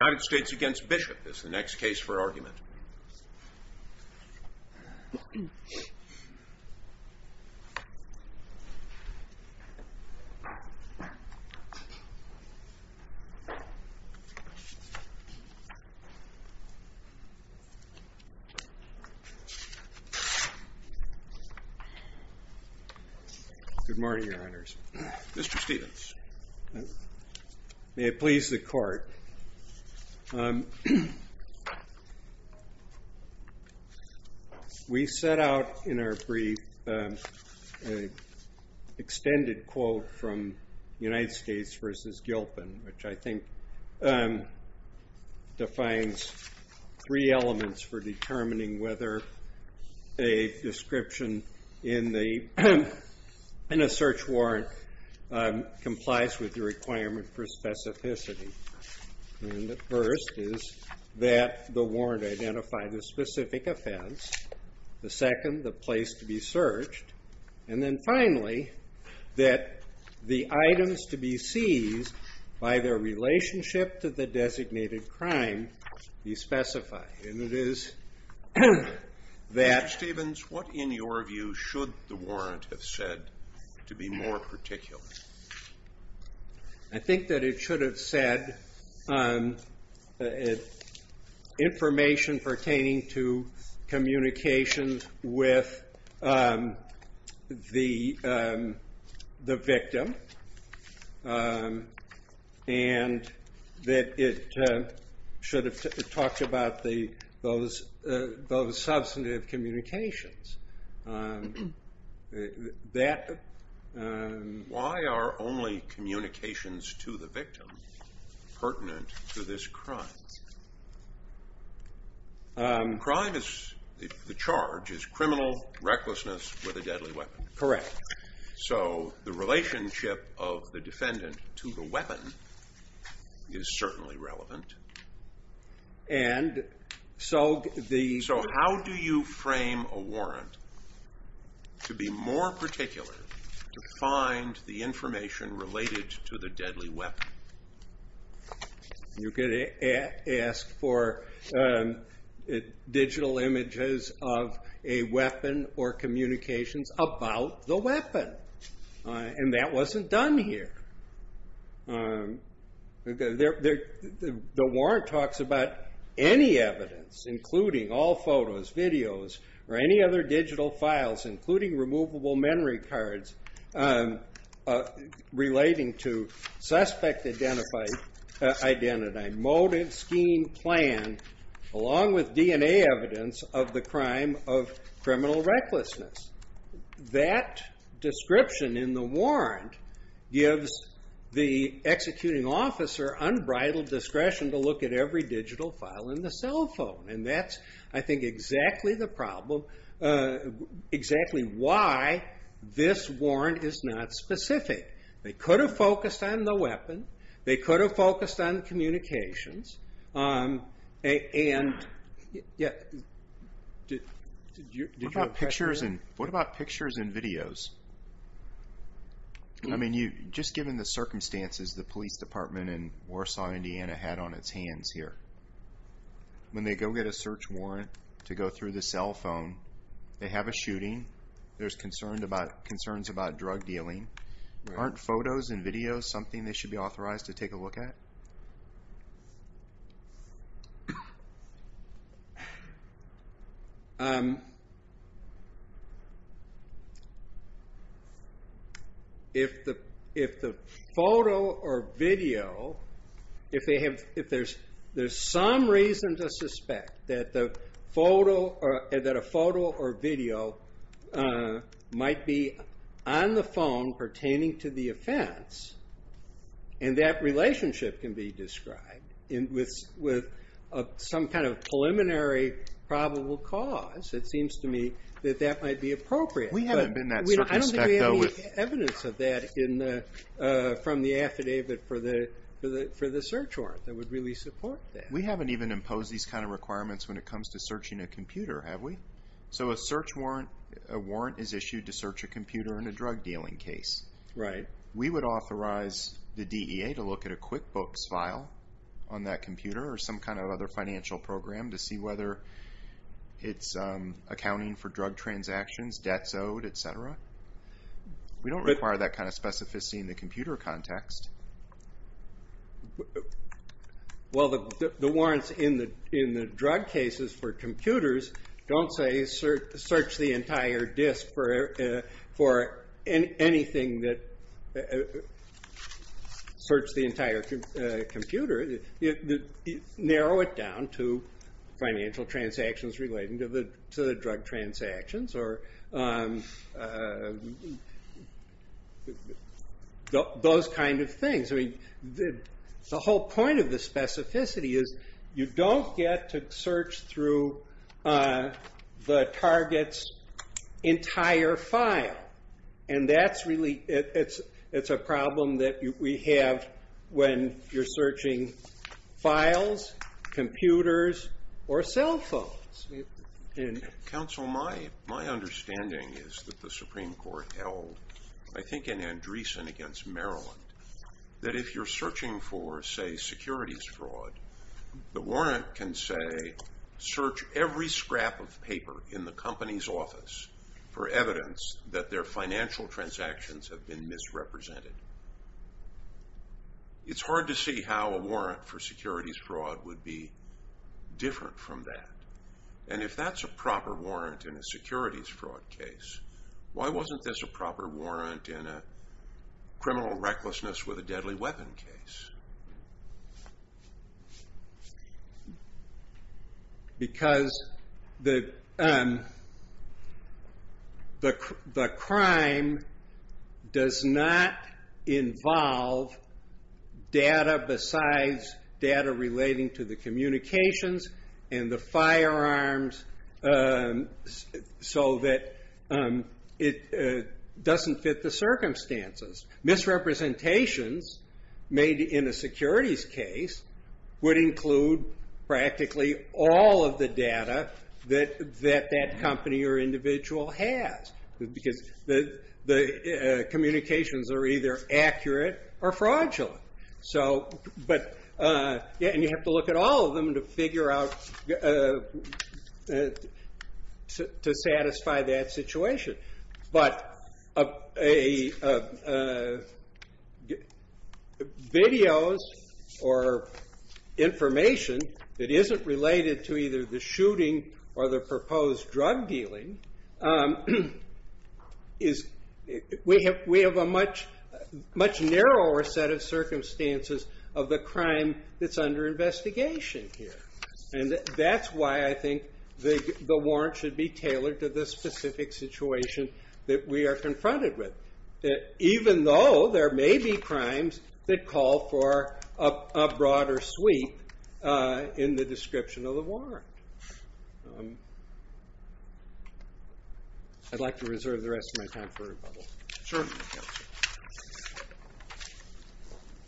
United States v. Bishop is the next case for argument. Good morning, Your Honors. Mr. Stephens, may it please the Court. We set out in our brief an extended quote from United States v. Gilpin, which I think defines three elements for determining whether a description in a search warrant complies with the requirement for specificity, and the first is that the warrant identify the specific offense, the second, the place to be searched, and then finally, that the items to be seized by their relationship to the designated crime be specified, and it is that Mr. Stephens, what in your view should the warrant have said to be more particular? I think that it should have said information pertaining to communications with the victim, and that it should have talked about those substantive communications. Why are only communications to the victim pertinent to this crime? Crime is, the charge is criminal recklessness with a deadly weapon. Correct. So the relationship of the defendant to the weapon is certainly relevant. And so the... So how do you frame a warrant to be more particular to find the information related to the deadly weapon? You could ask for digital images of a weapon or communications about the weapon, and that wasn't done here. The warrant talks about any evidence, including all photos, videos, or any other digital files, including removable memory cards relating to suspect identify, motive, scheme, plan, along with DNA evidence of the crime of criminal recklessness. That description in the warrant gives the executing officer unbridled discretion to determine exactly why this warrant is not specific. They could have focused on the weapon, they could have focused on communications, and... What about pictures and videos? I mean, just given the circumstances the police department in Warsaw, Indiana, had on its hands here, when they go get a search warrant to go through the cell phone, they have a shooting, there's concerns about drug dealing, aren't photos and videos something they should be authorized to take a look at? If the photo or video, if there's some reason to suspect that a photo or video is a weapon, might be on the phone pertaining to the offense, and that relationship can be described with some kind of preliminary probable cause, it seems to me that that might be appropriate. We haven't been that circumspect, though. I don't think we have any evidence of that from the affidavit for the search warrant that would really support that. We haven't even imposed these kind of requirements when it comes to searching a computer, have we? So a search warrant, a warrant is issued to search a computer in a drug dealing case. We would authorize the DEA to look at a QuickBooks file on that computer or some kind of other financial program to see whether it's accounting for drug transactions, debts owed, etc. We don't require that kind of specificity in the computer context. Well, the warrants in the drug cases for computers don't say search the entire disk for anything that, search the entire computer. Narrow it down to financial transactions relating to the drug transactions or those kind of things. The whole point of the specificity is you don't get to search through the target's entire file. It's a problem that we have when you're searching files, computers, or cell phones. Counsel, my understanding is that the Supreme Court held, I think, in Andreessen against Maryland, that if you're searching for, say, securities fraud, the warrant can say search every scrap of paper in the company's office for evidence that their financial transactions have been misrepresented. It's hard to see how a warrant for securities fraud would be different from that. If that's a proper warrant in a securities fraud case, why wasn't this a proper warrant in a criminal recklessness with a deadly weapon case? Because the crime does not involve data besides data relating to the communications and the firearms so that it doesn't fit the circumstances. Misrepresentations made in a securities case would include practically all of the data that that company or individual has, because the communications are either accurate or fraudulent. And you have to look at all of them to figure out to satisfy that situation. Videos or information that isn't related to either the shooting or the proposed drug dealing, we have a much narrower set of circumstances of the crime that's under investigation here. And that's why I think the warrant should be tailored to the specific situation that we are confronted with, even though there may be crimes that call for a broader sweep in the description of the warrant. I'd like to reserve the rest of my time for rebuttal. Sure.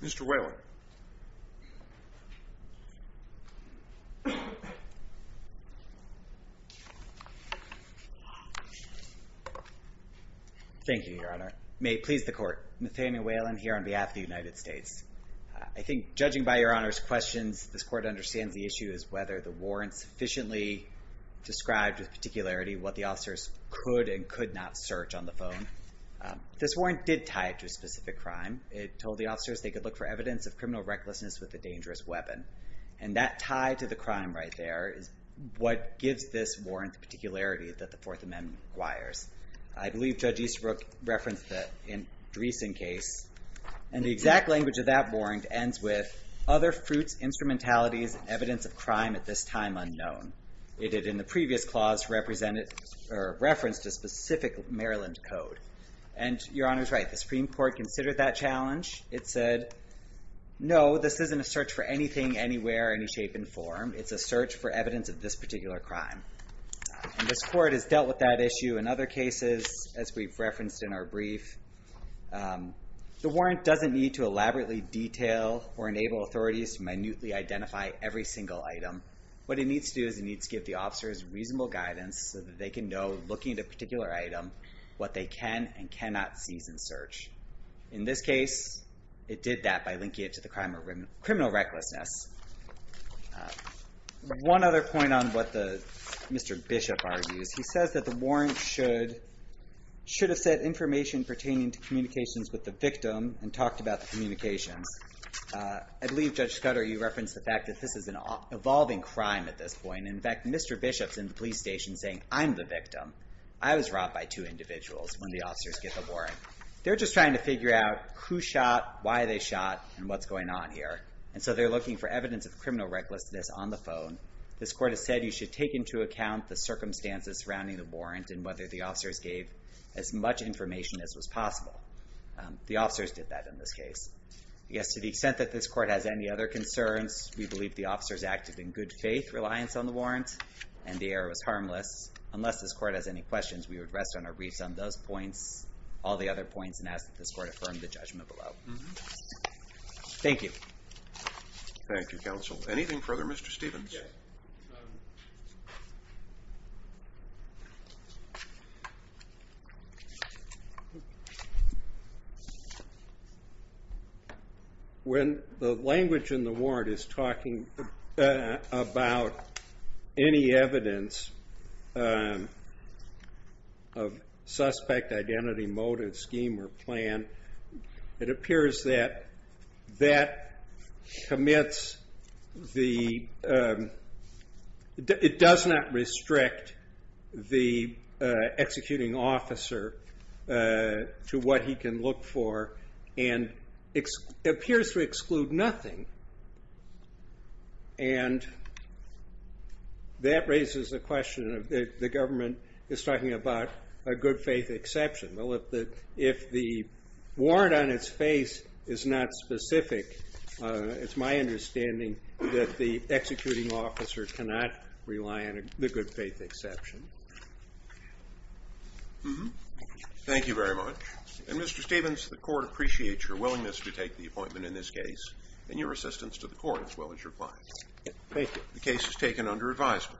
Mr. Whalen. Thank you, Your Honor. May it please the court. Nathaniel Whalen here on behalf of the United States. I think judging by Your Honor's questions, this court understands the issue is whether the warrant sufficiently described with particularity what the officers could and could not search on the phone. This warrant did tie it to a specific crime. It told the officers they could look for evidence of criminal recklessness with a dangerous weapon. And that tie to the crime right there is what gives this warrant the particularity that the Fourth Amendment requires. I believe Judge Easterbrook referenced that in the recent case. And the exact language of that warrant ends with other fruits, instrumentalities, evidence of crime at this time unknown. It did in the previous clause reference to specific Maryland code. And Your Honor's right. The Supreme Court considered that challenge. It said, no, this isn't a search for anything, anywhere, any shape and form. It's a search for evidence of this particular crime. And this court has dealt with that issue in other cases, as we've referenced in our brief. The warrant doesn't need to elaborately detail or enable authorities to minutely identify every single item. What it needs to do is it needs to give the officers reasonable guidance so that they can know looking at a particular item what they can and cannot seize and search. In this case, it did that by linking it to the crime of criminal recklessness. One other point on what Mr. Bishop argues. He says that the warrant should have said information pertaining to communications with the victim and talked about the communications. I believe, Judge Scudder, you referenced the fact that this is an evolving crime at this point. In fact, Mr. Bishop's in the police station saying, I'm the victim. I was robbed by two individuals when the officers get the warrant. They're just trying to figure out who shot, why they shot, and what's going on here. And so they're looking for evidence of criminal recklessness on the phone. This court has said you should take into account the circumstances surrounding the warrant and whether the officers gave as much information as was possible. The officers did that in this case. Yes, to the extent that this court has any other concerns, we believe the officers acted in good faith, reliance on the warrant, and the error was harmless. Unless this court has any questions, we would rest on our wreaths on those points, all the other points, and ask that this court affirm the judgment below. Thank you. Thank you, counsel. Anything further? Mr. Stephens? Yes. When the language in the warrant is talking about any evidence of suspect identity motive, scheme, or plan, it appears that that commits the, it does not restrict the executing officer to what he can look for, and it appears to exclude nothing. And that raises the question of the government is talking about a good faith exception. Well, if the warrant on its face is not specific, it's my understanding that the executing officer cannot rely on the good faith exception. Thank you very much. And Mr. Stephens, the court appreciates your willingness to take the appointment in this case, and your assistance to the court, as well as your clients. Thank you. The case is taken under advisement.